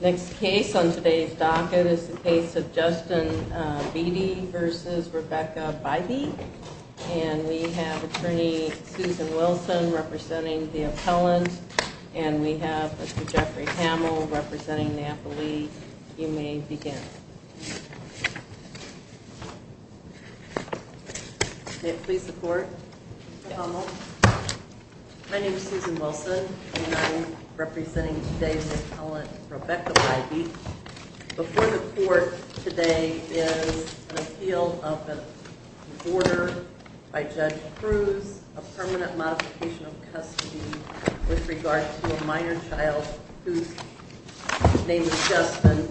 Next case on today's docket is the case of Justin Beattie v. Rebecca Bybee. And we have attorney Susan Wilson representing the appellant. And we have Mr. Jeffrey Hamill representing the appellee. You may begin. May it please the court. Mr. Hamill, my name is Susan Wilson and I am representing today's appellant Rebecca Bybee. Before the court today is an appeal of an order by Judge Cruz, a permanent modification of custody with regard to a minor child whose name is Justin.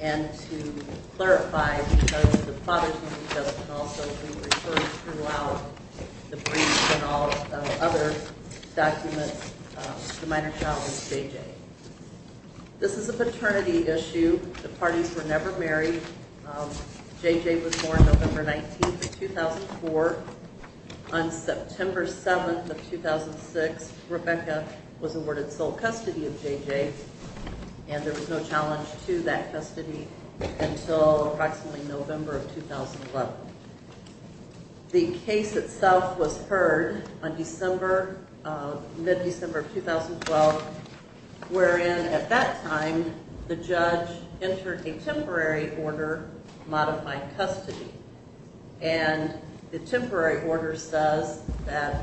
And to clarify, because of the father's name he does not also be referred throughout the briefs and all other documents, the minor child is J.J. This is a paternity issue. The parties were never married. J.J. was born November 19, 2004. On September 7, 2006, Rebecca was awarded sole custody of J.J. and there was no challenge to that custody until approximately November of 2011. The case itself was heard on December, mid-December of 2012, wherein at that time the judge entered a temporary order modifying custody. And the temporary order says that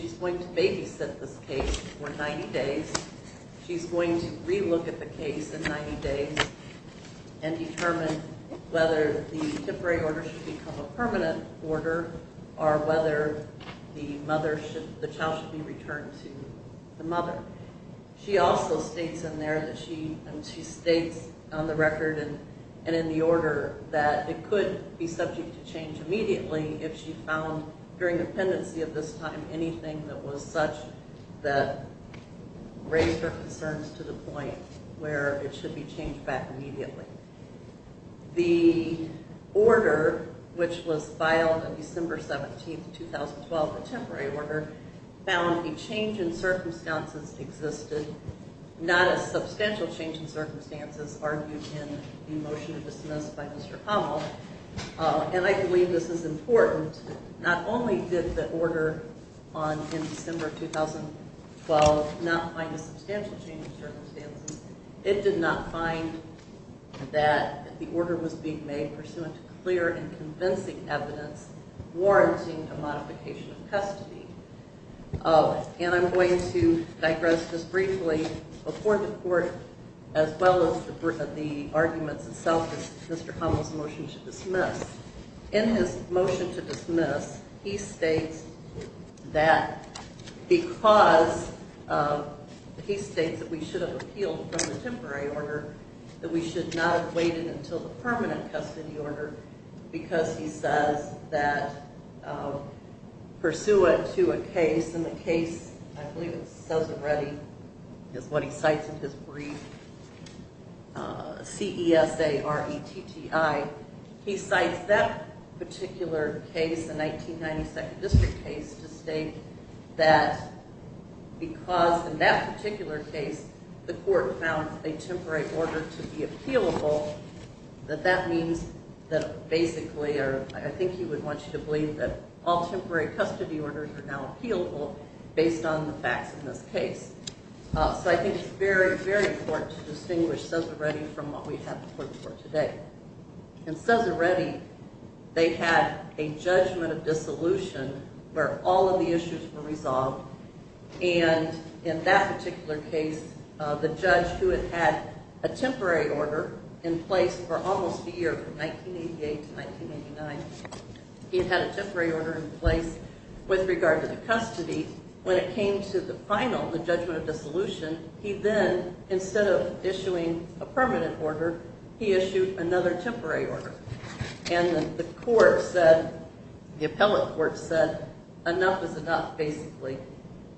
she's going to babysit this case for 90 days. She's going to re-look at the case in 90 days and determine whether the temporary order should become a permanent order or whether the child should be returned to the mother. She also states on the record and in the order that it could be subject to change immediately if she found during the pendency of this time anything that was such that raised her concerns to the point where it should be changed back immediately. The order, which was filed on December 17, 2012, the temporary order, found a change in circumstances existed, not a substantial change in circumstances argued in the motion dismissed by Mr. Hummel. And I believe this is important. Not only did the order in December 2012 not find a substantial change in circumstances, it did not find that the order was being made pursuant to clear and convincing evidence warranting a modification of custody. And I'm going to digress this briefly before the court as well as the arguments itself, Mr. Hummel's motion to dismiss. In his motion to dismiss, he states that because he states that we should have appealed from the temporary order, that we should not have waited until the permanent custody order because he says that pursuant to a case, and the case, I believe it says already, is what he cites in his brief, C-E-S-A-R-E-T-T-I. He cites that particular case, the 1992 district case, to state that because in that particular case the court found a temporary order to be appealable, that that means that basically, or I think he would want you to believe that all temporary custody orders are now appealable based on the facts in this case. So I think it's very, very important to distinguish CESA-RETI from what we have before the court today. In CESA-RETI, they had a judgment of dissolution where all of the issues were resolved. And in that particular case, the judge who had had a temporary order in place for almost a year, from 1988 to 1989, he had a temporary order in place with regard to the custody. When it came to the final, the judgment of dissolution, he then, instead of issuing a permanent order, he issued another temporary order. And the court said, the appellate court said, enough is enough, basically.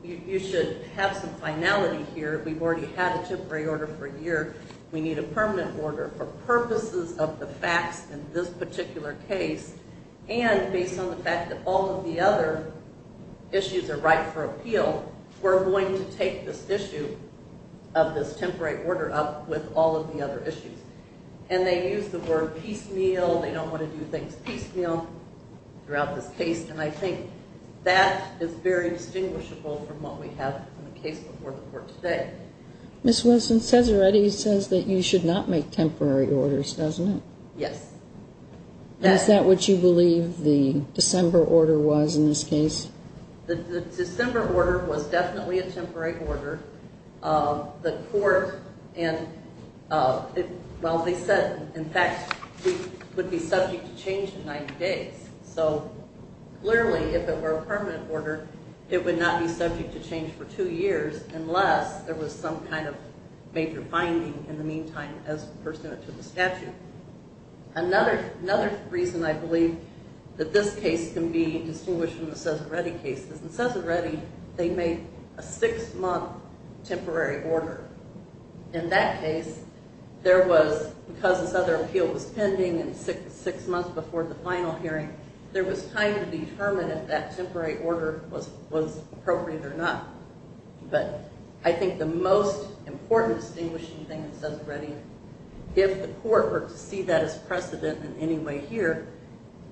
You should have some finality here. We've already had a temporary order for a year. We need a permanent order for purposes of the facts in this particular case. And based on the fact that all of the other issues are right for appeal, we're going to take this issue of this temporary order up with all of the other issues. And they use the word piecemeal. They don't want to do things piecemeal throughout this case. And I think that is very distinguishable from what we have in the case before the court today. Ms. Wilson, CESA-RETI says that you should not make temporary orders, doesn't it? Yes. Is that what you believe the December order was in this case? The December order was definitely a temporary order. The court and, well, they said, in fact, we would be subject to change in 90 days. So, clearly, if it were a permanent order, it would not be subject to change for two years unless there was some kind of major finding in the meantime as pursuant to the statute. Another reason I believe that this case can be distinguished from the CESA-RETI cases. In CESA-RETI, they made a six-month temporary order. In that case, there was, because this other appeal was pending and six months before the final hearing, there was time to determine if that temporary order was appropriate or not. But I think the most important distinguishing thing in CESA-RETI, if the court were to see that as precedent in any way here,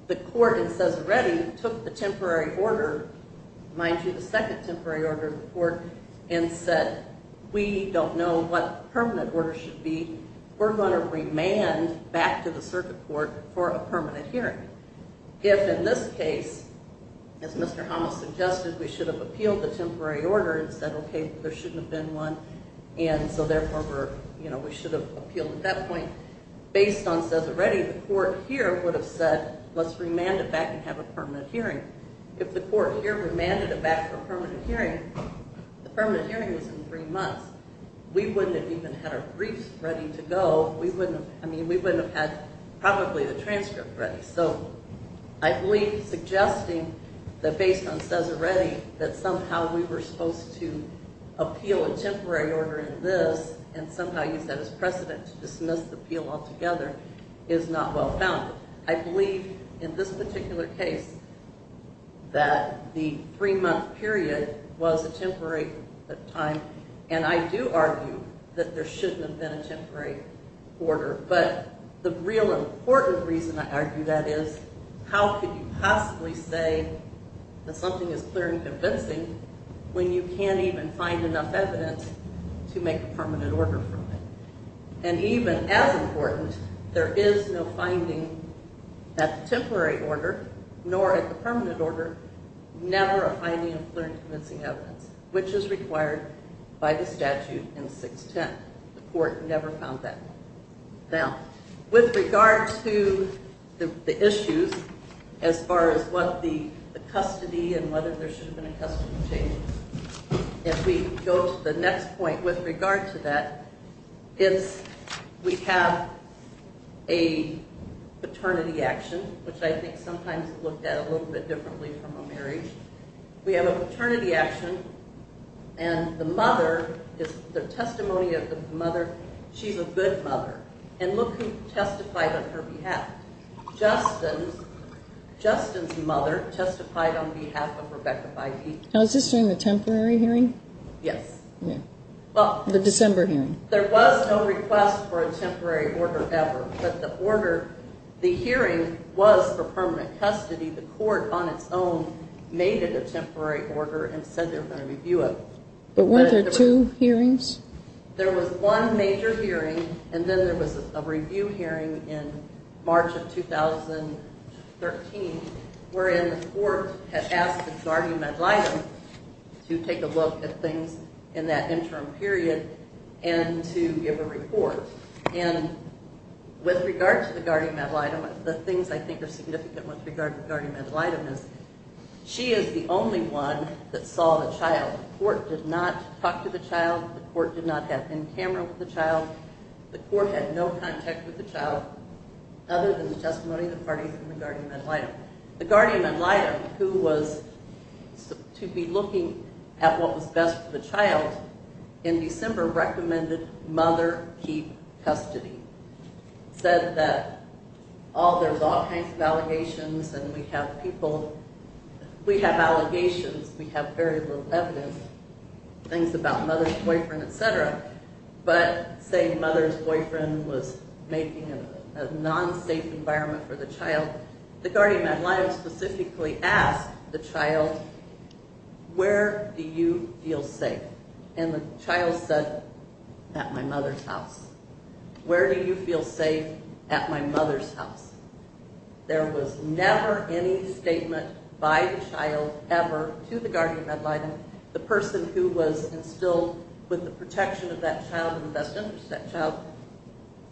the court in CESA-RETI took the temporary order, mind you, the second temporary order of the court, and said, we don't know what the permanent order should be. We're going to remand back to the circuit court for a permanent hearing. If, in this case, as Mr. Hamos suggested, we should have appealed the temporary order and said, okay, there shouldn't have been one, and so, therefore, we should have appealed at that point, based on CESA-RETI, the court here would have said, let's remand it back and have a permanent hearing. If the court here remanded it back for a permanent hearing, the permanent hearing is in three months. We wouldn't have even had our briefs ready to go. I mean, we wouldn't have had probably the transcript ready. So I believe suggesting that based on CESA-RETI that somehow we were supposed to appeal a temporary order in this and somehow use that as precedent to dismiss the appeal altogether is not well-founded. I believe in this particular case that the three-month period was a temporary time, and I do argue that there shouldn't have been a temporary order. But the real important reason I argue that is how could you possibly say that something is clear and convincing when you can't even find enough evidence to make a permanent order from it? And even as important, there is no finding at the temporary order, nor at the permanent order, never a finding of clear and convincing evidence, which is required by the statute in 610. The court never found that. Now, with regard to the issues as far as what the custody and whether there should have been a custody change, if we go to the next point with regard to that, it's we have a paternity action, which I think sometimes looked at a little bit differently from a marriage. We have a paternity action, and the mother is the testimony of the mother. She's a good mother. And look who testified on her behalf. Justin's mother testified on behalf of Rebecca Byde. Now, is this during the temporary hearing? Yes. The December hearing. There was no request for a temporary order ever, but the order, the hearing was for permanent custody. The court on its own made it a temporary order and said they were going to review it. But weren't there two hearings? There was one major hearing, and then there was a review hearing in March of 2013, wherein the court had asked the guardian ad litem to take a look at things in that interim period and to give a report. And with regard to the guardian ad litem, the things I think are significant with regard to the guardian ad litem is she is the only one that saw the child. The court did not talk to the child. The court did not have in camera with the child. The court had no contact with the child other than the testimony of the parties in the guardian ad litem. The guardian ad litem, who was to be looking at what was best for the child, in December recommended mother keep custody. Said that there's all kinds of allegations and we have people, we have allegations. We have very little evidence, things about mother's boyfriend, et cetera. But saying mother's boyfriend was making a non-safe environment for the child, the guardian ad litem specifically asked the child, where do you feel safe? And the child said, at my mother's house. Where do you feel safe? At my mother's house. There was never any statement by the child ever to the guardian ad litem, the person who was instilled with the protection of that child and the best interest of that child.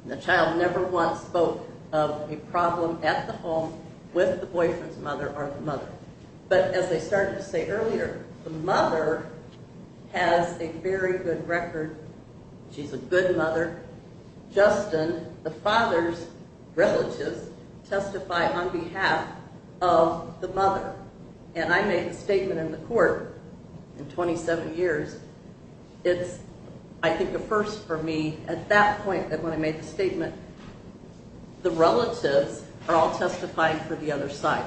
The child never once spoke of a problem at the home with the boyfriend's mother or the mother. But as I started to say earlier, the mother has a very good record. She's a good mother. Justin, the father's relatives, testify on behalf of the mother. And I made a statement in the court in 27 years. It's, I think, a first for me at that point that when I made the statement, the relatives are all testifying for the other side.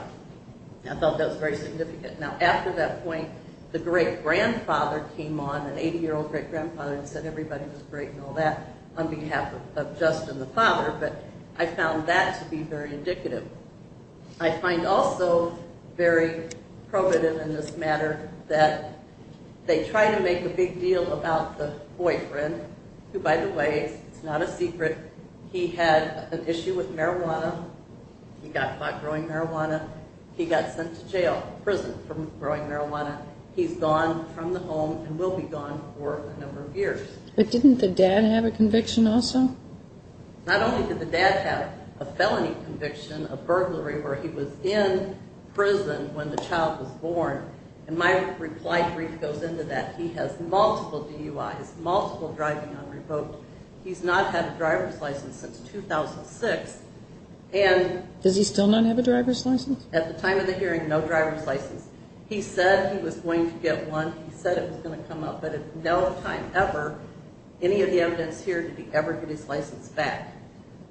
I felt that was very significant. Now, after that point, the great-grandfather came on, an 80-year-old great-grandfather, and said everybody was great and all that on behalf of Justin, the father. But I found that to be very indicative. I find also very probative in this matter that they try to make a big deal about the boyfriend, who, by the way, it's not a secret, he had an issue with marijuana. He got caught growing marijuana. He got sent to jail, prison, for growing marijuana. He's gone from the home and will be gone for a number of years. But didn't the dad have a conviction also? Not only did the dad have a felony conviction, a burglary, where he was in prison when the child was born. And my reply brief goes into that. He has multiple DUIs, multiple driving on revoke. He's not had a driver's license since 2006. Does he still not have a driver's license? At the time of the hearing, no driver's license. He said he was going to get one. He said it was going to come up. But at no time ever, any of the evidence here did he ever get his license back.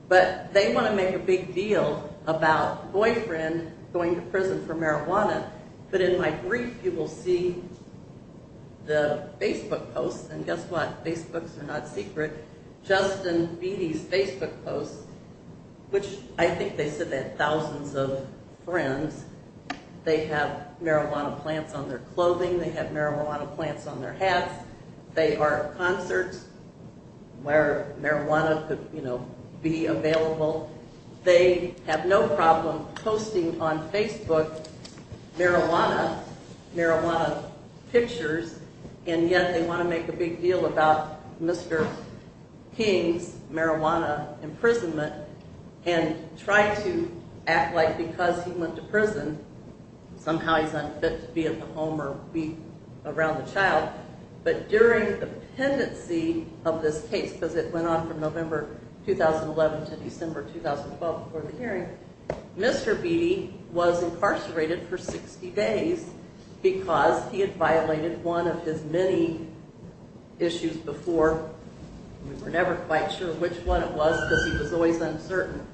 But they want to make a big deal about boyfriend going to prison for marijuana. But in my brief, you will see the Facebook posts, and guess what? Facebooks are not secret. Justin Beattie's Facebook posts, which I think they said they had thousands of friends. They have marijuana plants on their clothing. They have marijuana plants on their hats. They are at concerts where marijuana could, you know, be available. They have no problem posting on Facebook marijuana, marijuana pictures, and yet they want to make a big deal about Mr. King's marijuana imprisonment and try to act like because he went to prison, somehow he's unfit to be at the home or be around the child. But during the pendency of this case, because it went on from November 2011 to December 2012 before the hearing, Mr. Beattie was incarcerated for 60 days because he had violated one of his many issues before. We were never quite sure which one it was because he was always uncertain.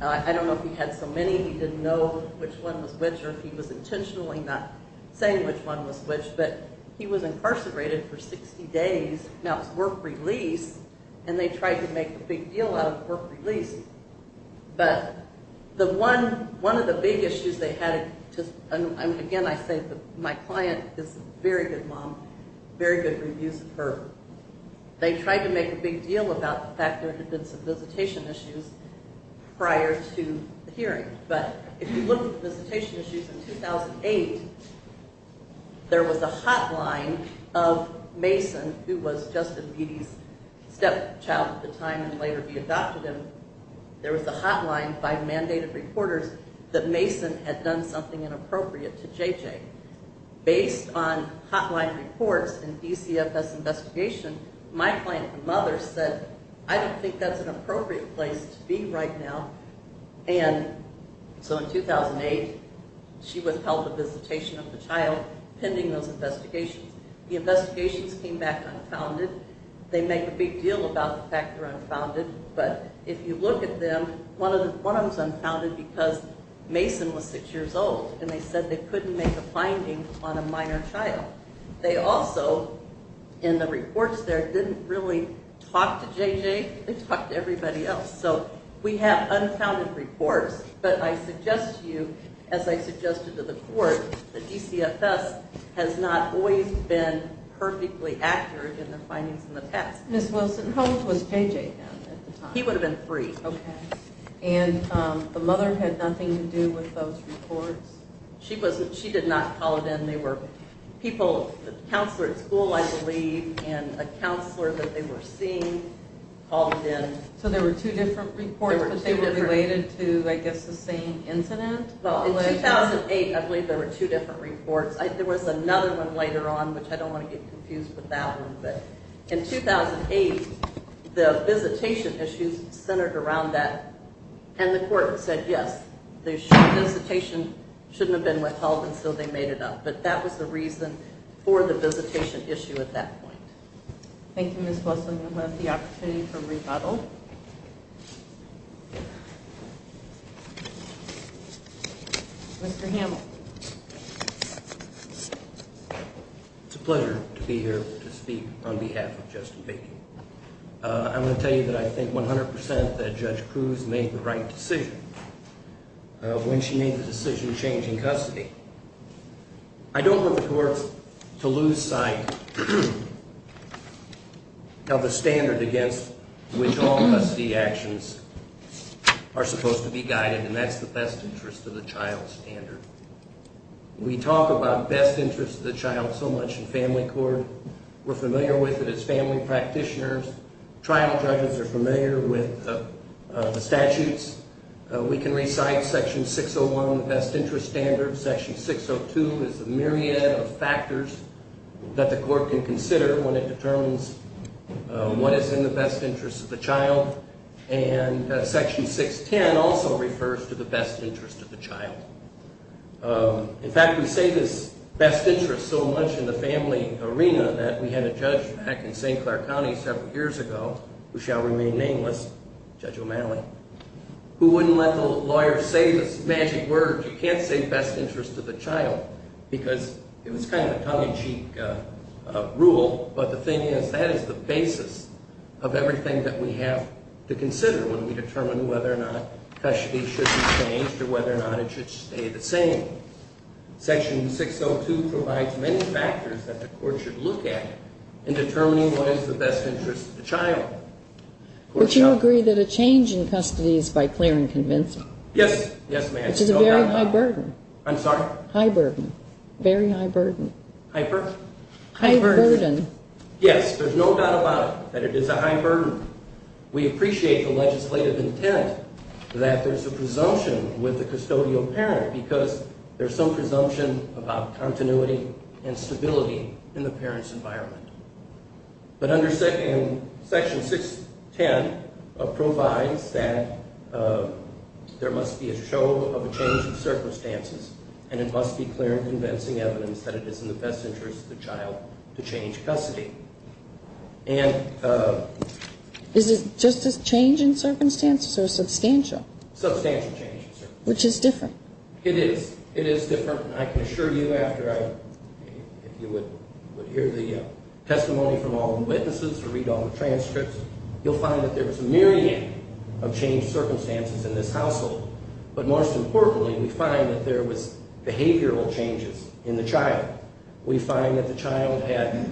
I don't know if he had so many. He didn't know which one was which or if he was intentionally not saying which one was which. But he was incarcerated for 60 days. Now it was work release, and they tried to make a big deal out of work release. But one of the big issues they had, and again I say my client is a very good mom, very good reviews of her. They tried to make a big deal about the fact there had been some visitation issues prior to the hearing. But if you look at the visitation issues in 2008, there was a hotline of Mason, who was Justin Beattie's stepchild at the time and would later be adopted, and there was a hotline by mandated reporters that Mason had done something inappropriate to JJ. Based on hotline reports and DCFS investigation, my client's mother said, I don't think that's an appropriate place to be right now. And so in 2008, she withheld the visitation of the child pending those investigations. The investigations came back unfounded. They make a big deal about the fact they're unfounded. But if you look at them, one of them is unfounded because Mason was six years old, and they said they couldn't make a finding on a minor child. They also, in the reports there, didn't really talk to JJ. They talked to everybody else. So we have unfounded reports. But I suggest to you, as I suggested to the court, that DCFS has not always been perfectly accurate in their findings in the past. Ms. Wilson, how old was JJ then at the time? He would have been three. Okay. And the mother had nothing to do with those reports? She did not call it in. The counselor at school, I believe, and a counselor that they were seeing called it in. So there were two different reports, but they were related to, I guess, the same incident? In 2008, I believe there were two different reports. There was another one later on, which I don't want to get confused with that one. But in 2008, the visitation issues centered around that. And the court said, yes, the visitation shouldn't have been withheld, until they made it up. But that was the reason for the visitation issue at that point. Thank you, Ms. Wilson. You'll have the opportunity for rebuttal. Mr. Hamill. It's a pleasure to be here to speak on behalf of Justin Bacon. I'm going to tell you that I think 100% that Judge Cruz made the right decision. When she made the decision changing custody. I don't want the courts to lose sight of the standard against which all custody actions are supposed to be guided, and that's the best interest of the child standard. We talk about best interest of the child so much in family court. We're familiar with it as family practitioners. Trial judges are familiar with the statutes. We can recite Section 601, the best interest standard. Section 602 is a myriad of factors that the court can consider when it determines what is in the best interest of the child. And Section 610 also refers to the best interest of the child. In fact, we say this best interest so much in the family arena that we had a judge back in St. Clair County several years ago, who shall remain nameless, Judge O'Malley, who wouldn't let the lawyer say this magic word. You can't say best interest of the child because it was kind of a tongue-in-cheek rule, but the thing is that is the basis of everything that we have to consider when we determine whether or not custody should be changed or whether or not it should stay the same. Section 602 provides many factors that the court should look at in determining what is the best interest of the child. Would you agree that a change in custody is, by Clarence, convincing? Yes. Yes, ma'am. Which is a very high burden. I'm sorry? High burden. Very high burden. High burden? High burden. Yes, there's no doubt about it, that it is a high burden. We appreciate the legislative intent that there's a presumption with the custodial parent because there's some presumption about continuity and stability in the parent's environment. But under Section 610 provides that there must be a show of a change in circumstances and it must be clear and convincing evidence that it is in the best interest of the child to change custody. Is it just a change in circumstances or substantial? Substantial change in circumstances. Which is different? It is. It is different. And I can assure you after I, if you would hear the testimony from all the witnesses or read all the transcripts, you'll find that there was a myriad of changed circumstances in this household. But most importantly, we find that there was behavioral changes in the child. We find that the child had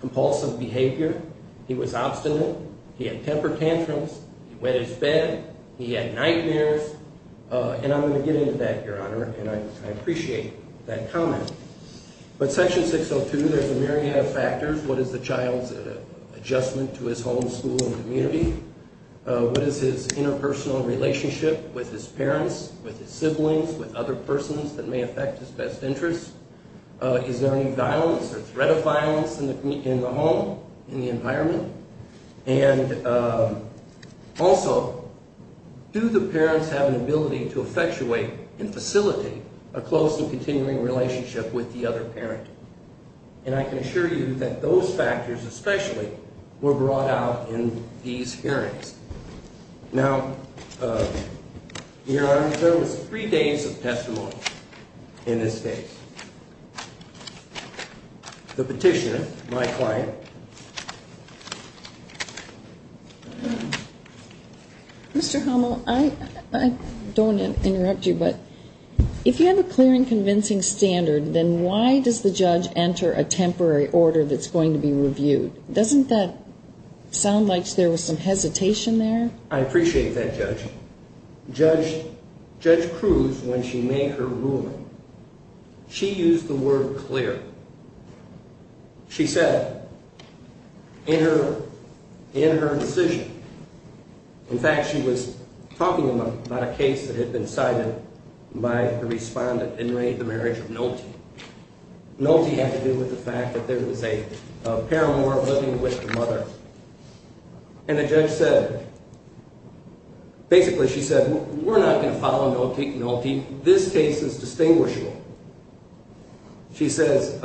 compulsive behavior. He was obstinate. He had temper tantrums. He wet his bed. He had nightmares. And I'm going to get into that, Your Honor, and I appreciate that comment. But Section 602, there's a myriad of factors. What is the child's adjustment to his home, school, and community? What is his interpersonal relationship with his parents, with his siblings, with other persons that may affect his best interests? Is there any violence or threat of violence in the home, in the environment? And also, do the parents have an ability to effectuate and facilitate a close and continuing relationship with the other parent? And I can assure you that those factors especially were brought out in these hearings. Now, Your Honor, there was three days of testimony in this case. The petitioner, my client. Mr. Homel, I don't want to interrupt you, but if you have a clear and convincing standard, then why does the judge enter a temporary order that's going to be reviewed? Doesn't that sound like there was some hesitation there? I appreciate that, Judge. Judge Cruz, when she made her ruling, she used the word clear. She said in her decision, in fact, she was talking about a case that had been cited by the respondent in the marriage of Nolte. Nolte had to do with the fact that there was a paramour living with the mother. And the judge said, basically she said, we're not going to follow Nolte. This case is distinguishable. She says,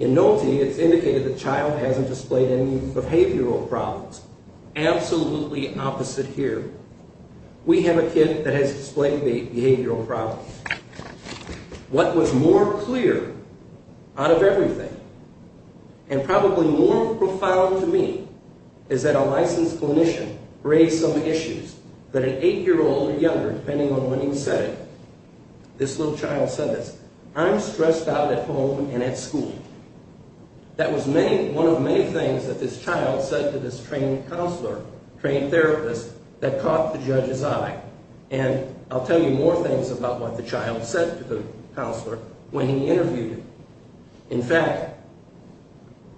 in Nolte, it's indicated the child hasn't displayed any behavioral problems. Absolutely opposite here. We have a kid that has displayed behavioral problems. What was more clear out of everything, and probably more profound to me, is that a licensed clinician raised some issues that an 8-year-old or younger, depending on when he said it, this little child said this, I'm stressed out at home and at school. That was one of many things that this child said to this trained counselor, trained therapist, that caught the judge's eye. And I'll tell you more things about what the child said to the counselor when he interviewed him. In fact,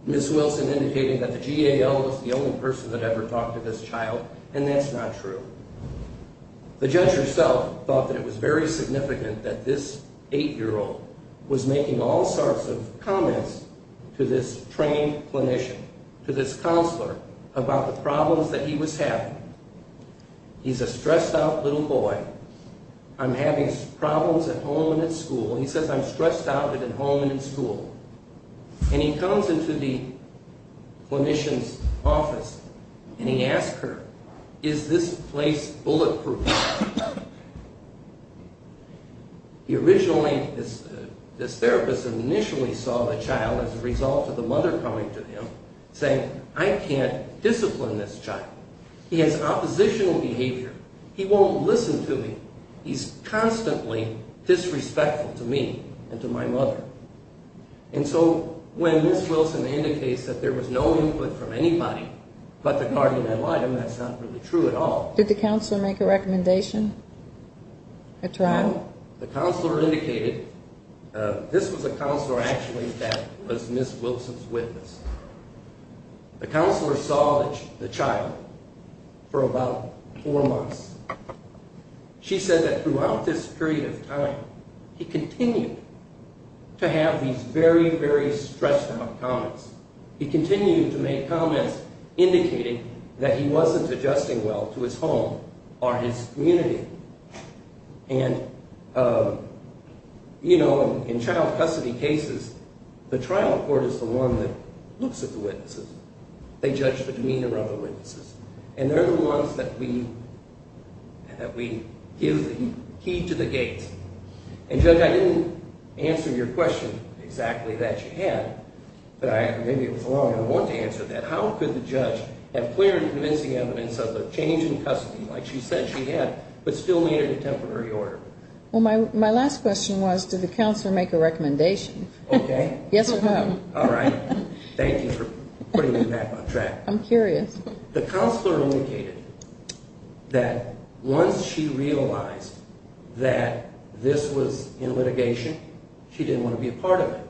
Ms. Wilson indicated that the GAL was the only person that ever talked to this child, and that's not true. The judge herself thought that it was very significant that this 8-year-old was making all sorts of comments to this trained clinician, to this counselor, about the problems that he was having. He's a stressed out little boy. I'm having problems at home and at school. He says, I'm stressed out at home and at school. And he comes into the clinician's office, and he asks her, is this place bulletproof? Originally, this therapist initially saw the child as a result of the mother coming to him, saying, I can't discipline this child. He has oppositional behavior. He won't listen to me. He's constantly disrespectful to me and to my mother. And so when Ms. Wilson indicates that there was no input from anybody but the GAL, that's not really true at all. Did the counselor make a recommendation, a trial? No. The counselor indicated this was a counselor actually that was Ms. Wilson's witness. The counselor saw the child for about four months. She said that throughout this period of time, he continued to have these very, very stressed out comments. He continued to make comments indicating that he wasn't adjusting well to his home or his community. And, you know, in child custody cases, the trial court is the one that looks at the witnesses. They judge the demeanor of the witnesses. And they're the ones that we give the key to the gate. And, Judge, I didn't answer your question exactly that you had, but maybe it was a long one to answer that. How could the judge have clear and convincing evidence of the change in custody, like she said she had, but still made it a temporary order? Well, my last question was, did the counselor make a recommendation? Okay. Yes or no? All right. Thank you for putting me back on track. I'm curious. The counselor indicated that once she realized that this was in litigation, she didn't want to be a part of it.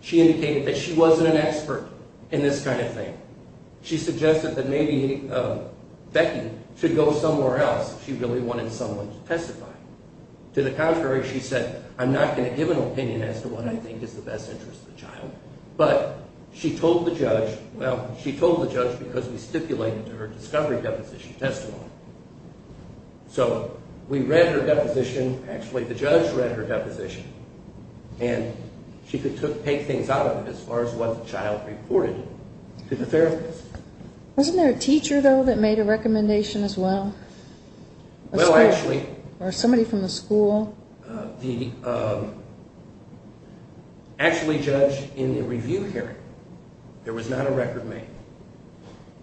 She indicated that she wasn't an expert in this kind of thing. She suggested that maybe Becky should go somewhere else if she really wanted someone to testify. To the contrary, she said, I'm not going to give an opinion as to what I think is the best interest of the child. But she told the judge, well, she told the judge because we stipulated her discovery deposition testimony. So we read her deposition. Actually, the judge read her deposition. And she could take things out of it as far as what the child reported to the therapist. Wasn't there a teacher, though, that made a recommendation as well? Well, actually. Or somebody from the school? Actually, Judge, in the review hearing, there was not a record made.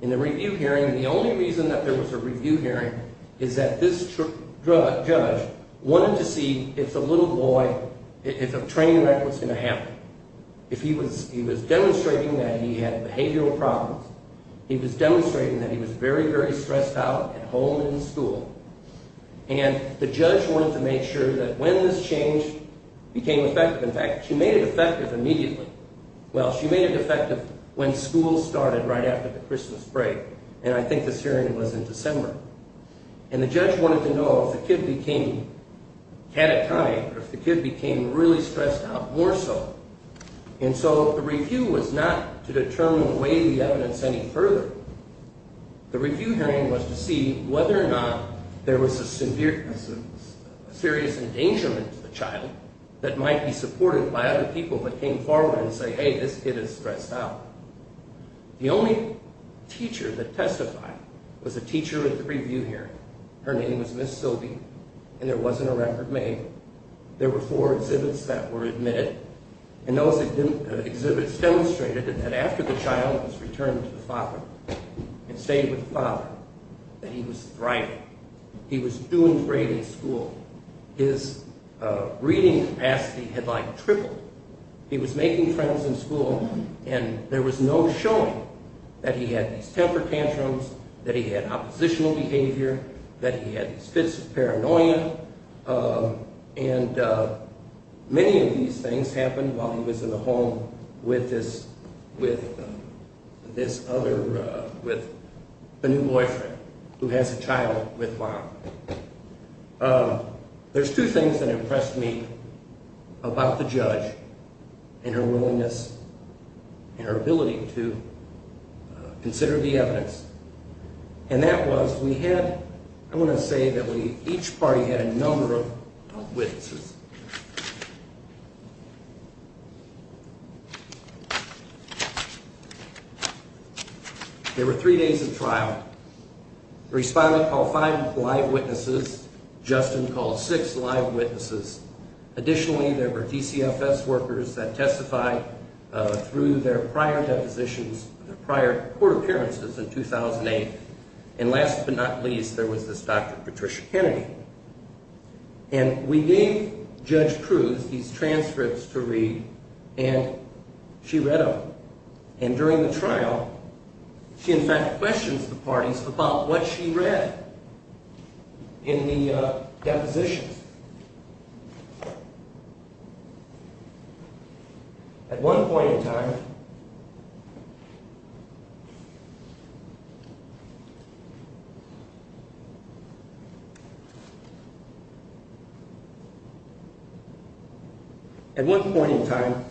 In the review hearing, the only reason that there was a review hearing is that this judge wanted to see if the little boy, if a train wreck was going to happen. He was demonstrating that he had behavioral problems. He was demonstrating that he was very, very stressed out at home and in school. And the judge wanted to make sure that when this changed became effective. In fact, she made it effective immediately. Well, she made it effective when school started right after the Christmas break. And I think this hearing was in December. And the judge wanted to know if the kid became catatonic or if the kid became really stressed out more so. And so the review was not to determine or weigh the evidence any further. The review hearing was to see whether or not there was a serious endangerment to the child that might be supported by other people that came forward and say, hey, this kid is stressed out. The only teacher that testified was a teacher at the review hearing. Her name was Ms. Silby, and there wasn't a record made. There were four exhibits that were admitted. And those exhibits demonstrated that after the child was returned to the father and stayed with the father, that he was thriving. He was doing great in school. His reading capacity had, like, tripled. He was making friends in school, and there was no showing that he had these temper tantrums, that he had oppositional behavior, that he had these fits of paranoia. And many of these things happened while he was in the home with this other, with the new boyfriend who has a child with Bob. There's two things that impressed me about the judge and her willingness and her ability to consider the evidence. And that was we had, I want to say that we, each party had a number of witnesses. There were three days of trial. The respondent called five live witnesses. Justin called six live witnesses. Additionally, there were DCFS workers that testified through their prior depositions, prior court appearances in 2008. And last but not least, there was this Dr. Patricia Kennedy. And we gave Judge Cruz these transcripts to read, and she read them. And during the trial, she in fact questions the parties about what she read in the depositions. At one point in time, and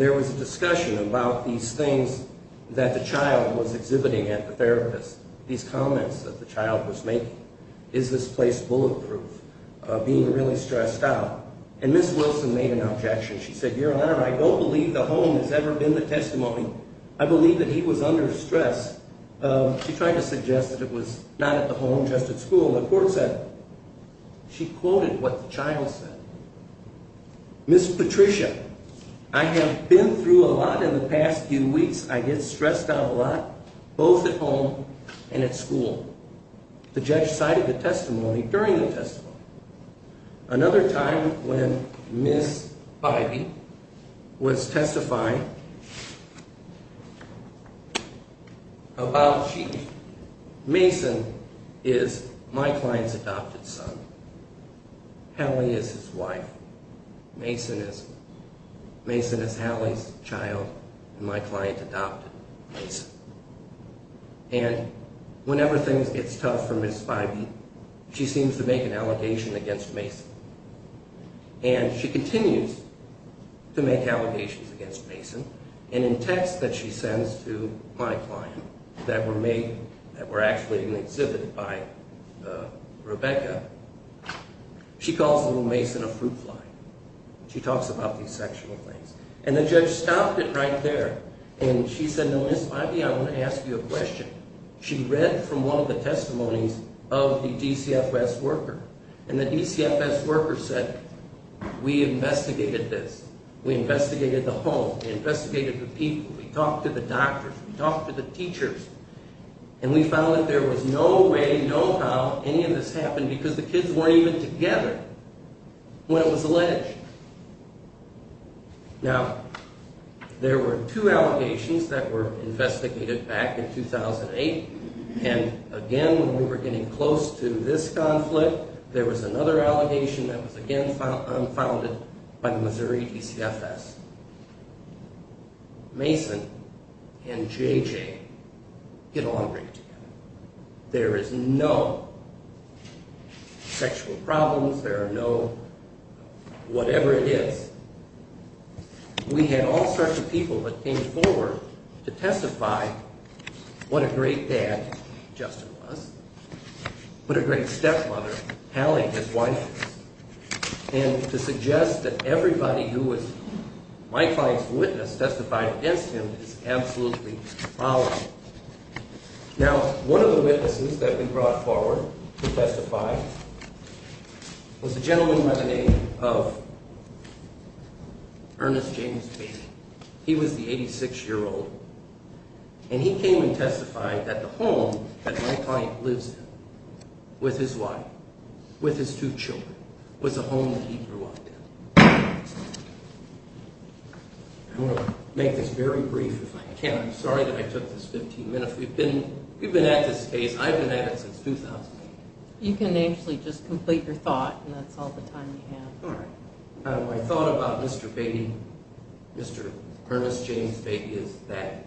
there was a discussion about these things that the child was exhibiting at the therapist, these comments that the child was making. Is this place bulletproof? Being really stressed out. And Ms. Wilson made an objection. She said, Your Honor, I don't believe the home has ever been the testimony. I believe that he was under stress. She tried to suggest that it was not at the home, just at school. The court said, she quoted what the child said. Ms. Patricia, I have been through a lot in the past few weeks. I get stressed out a lot, both at home and at school. The judge cited the testimony during the testimony. Another time when Ms. Bybee was testifying about she, Mason is my client's adopted son. Hallie is his wife. Mason is Hallie's child, and my client adopted Mason. And whenever things get tough for Ms. Bybee, she seems to make an allegation against Mason. And she continues to make allegations against Mason. And in texts that she sends to my client that were made, that were actually exhibited by Rebecca, she calls little Mason a fruit fly. She talks about these sexual things. And the judge stopped it right there. And she said, Ms. Bybee, I want to ask you a question. She read from one of the testimonies of the DCFS worker. And the DCFS worker said, we investigated this. We investigated the home. We investigated the people. We talked to the doctors. We talked to the teachers. And we found that there was no way, no how any of this happened because the kids weren't even together when it was alleged. Now, there were two allegations that were investigated back in 2008. And again, when we were getting close to this conflict, there was another allegation that was again unfounded by the Missouri DCFS. Mason and JJ get along great together. There is no sexual problems. There are no whatever it is. We had all sorts of people that came forward to testify what a great dad Justin was, what a great stepmother Hallie, his wife, was. And to suggest that everybody who was my client's witness testified against him is absolutely foul. Now, one of the witnesses that we brought forward to testify was a gentleman by the name of Ernest James Mason. He was the 86-year-old. And he came and testified that the home that my client lives in with his wife, with his two children, was the home that he grew up in. I want to make this very brief if I can. I'm sorry that I took this 15 minutes. We've been at this case, I've been at it since 2008. You can actually just complete your thought and that's all the time you have. All right. My thought about Mr. Beatty, Mr. Ernest James Beatty, is that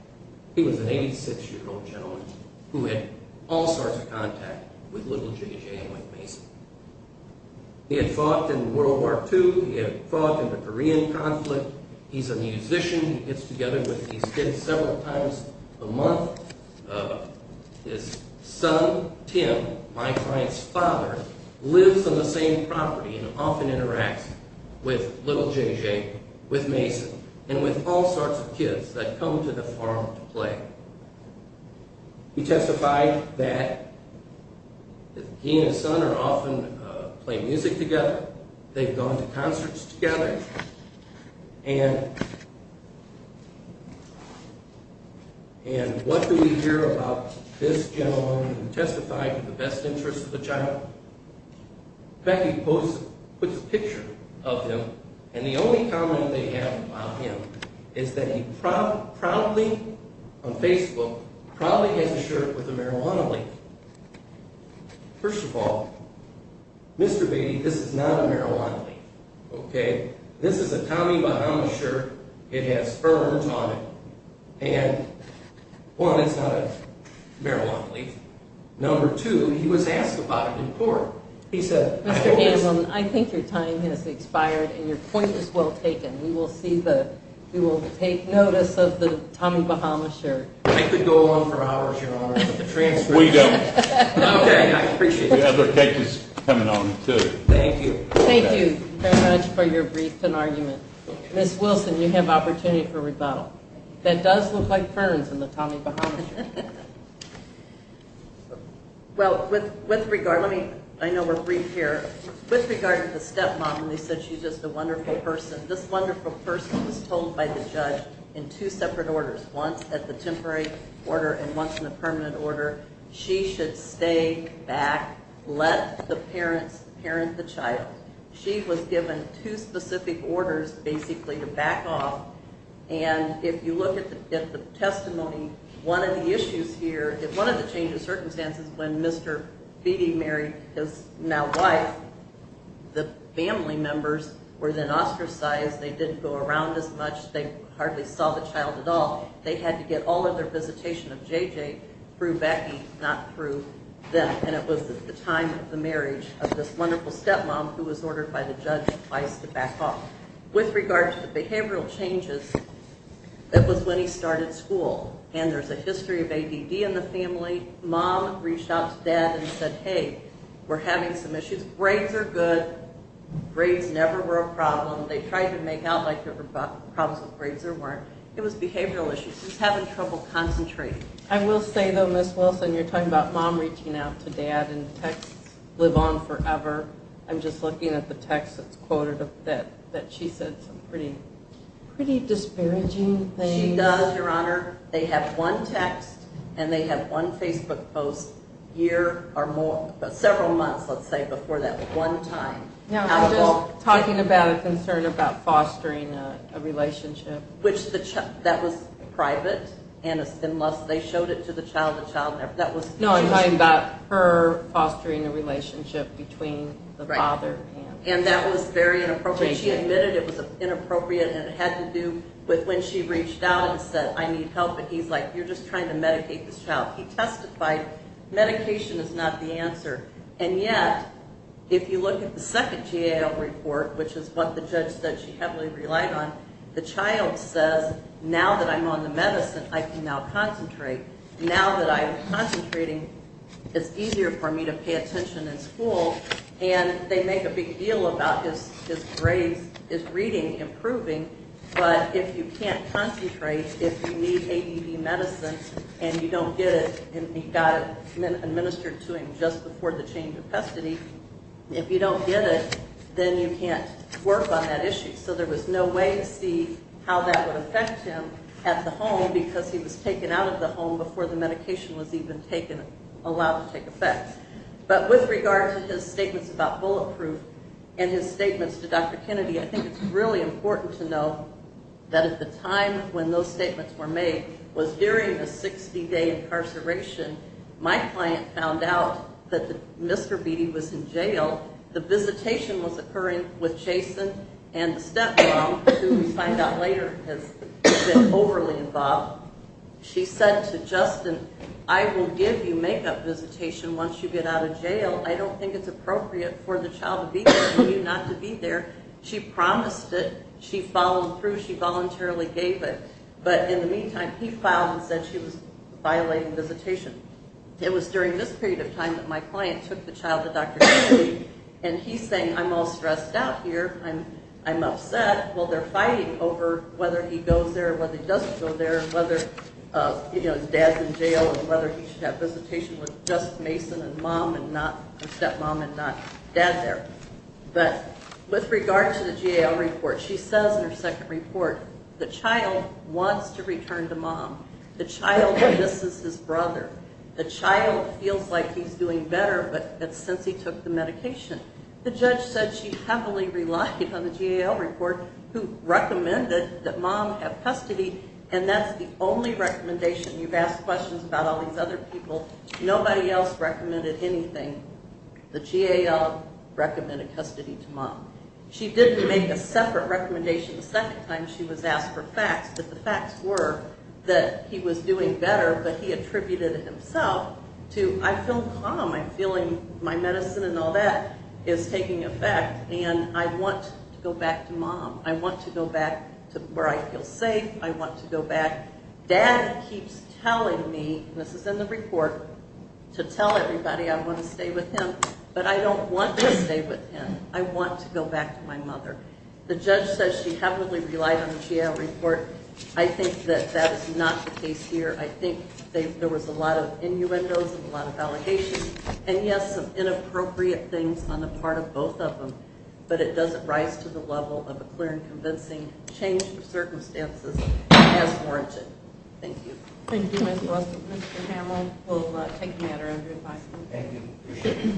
he was an 86-year-old gentleman who had all sorts of contact with little JJ and with Mason. He had fought in World War II. He had fought in the Korean conflict. He's a musician. He gets together with these kids several times a month. His son, Tim, my client's father, lives on the same property and often interacts with little JJ, with Mason, and with all sorts of kids that come to the farm to play. He testified that he and his son are often playing music together. They've gone to concerts together. And what do we hear about this gentleman who testified for the best interest of the child? Becky Post puts a picture of him, and the only comment they have about him is that he proudly, on Facebook, proudly has a shirt with a marijuana leaf. First of all, Mr. Beatty, this is not a marijuana leaf. Okay? This is a Tommy Bahamas shirt. It has sperms on it. And, one, it's not a marijuana leaf. Number two, he was asked about it in court. He said, Mr. Hanlon, I think your time has expired and your point is well taken. We will take notice of the Tommy Bahamas shirt. I could go on for hours, Your Honor. We don't. Okay, I appreciate it. We have other cases coming on, too. Thank you. Thank you very much for your brief and argument. Ms. Wilson, you have opportunity for rebuttal. That does look like ferns in the Tommy Bahamas shirt. Well, with regard, let me, I know we're brief here. With regard to the stepmom, they said she's just a wonderful person. This wonderful person was told by the judge in two separate orders, once at the temporary order and once in the permanent order, she should stay back. Let the parents parent the child. She was given two specific orders, basically, to back off. And if you look at the testimony, one of the issues here, one of the changes of circumstances when Mr. Beattie married his now wife, the family members were then ostracized. They didn't go around as much. They hardly saw the child at all. They had to get all of their visitation of J.J. through Becky, not through them. And it was at the time of the marriage of this wonderful stepmom who was ordered by the judge twice to back off. With regard to the behavioral changes, it was when he started school. And there's a history of ADD in the family. Mom reached out to dad and said, hey, we're having some issues. Grades are good. Grades never were a problem. They tried to make out like there were problems with grades or weren't. It was behavioral issues. He was having trouble concentrating. I will say, though, Ms. Wilson, you're talking about mom reaching out to dad, and texts live on forever. I'm just looking at the text that's quoted that she said some pretty disparaging things. She does, Your Honor. They have one text and they have one Facebook post a year or more, several months, let's say, before that one time. I'm just talking about a concern about fostering a relationship. That was private. Unless they showed it to the child, the child never. No, I'm talking about her fostering a relationship between the father and the child. And that was very inappropriate. She admitted it was inappropriate and it had to do with when she reached out and said, I need help. And he's like, you're just trying to medicate this child. He testified, medication is not the answer. And yet, if you look at the second GAO report, which is what the judge said she heavily relied on, the child says, now that I'm on the medicine, I can now concentrate. Now that I'm concentrating, it's easier for me to pay attention in school. And they make a big deal about his grades, his reading improving, but if you can't concentrate, if you need AED medicine and you don't get it, and he got it administered to him just before the change of custody, if you don't get it, then you can't work on that issue. So there was no way to see how that would affect him at the home because he was taken out of the home before the medication was even allowed to take effect. But with regard to his statements about bulletproof and his statements to Dr. Kennedy, I think it's really important to know that at the time when those statements were made was during the 60-day incarceration. My client found out that Mr. Beatty was in jail. The visitation was occurring with Jason and the stepmom, who we find out later has been overly involved. She said to Justin, I will give you makeup visitation once you get out of jail. I don't think it's appropriate for the child to be there and you not to be there. She promised it. She followed through. She voluntarily gave it. But in the meantime, he filed and said she was violating visitation. It was during this period of time that my client took the child to Dr. Kennedy, and he's saying, I'm all stressed out here. I'm upset. Well, they're fighting over whether he goes there, whether he doesn't go there, whether his dad's in jail, and whether he should have visitation with just Mason and stepmom and not dad there. But with regard to the GAL report, she says in her second report, the child wants to return to mom. The child misses his brother. The child feels like he's doing better, but that's since he took the medication. The judge said she heavily relied on the GAL report, who recommended that mom have custody, and that's the only recommendation. You've asked questions about all these other people. Nobody else recommended anything. The GAL recommended custody to mom. But the facts were that he was doing better, but he attributed it himself to, I feel calm, I'm feeling my medicine and all that is taking effect, and I want to go back to mom. I want to go back to where I feel safe. I want to go back. Dad keeps telling me, and this is in the report, to tell everybody I want to stay with him, but I don't want to stay with him. I want to go back to my mother. The judge says she heavily relied on the GAL report. I think that that is not the case here. I think there was a lot of innuendos and a lot of allegations, and, yes, some inappropriate things on the part of both of them, but it doesn't rise to the level of a clear and convincing change of circumstances as warranted. Thank you. Thank you, Ms. Russell. Mr. Hamill will take a matter under advice. Thank you. Appreciate it.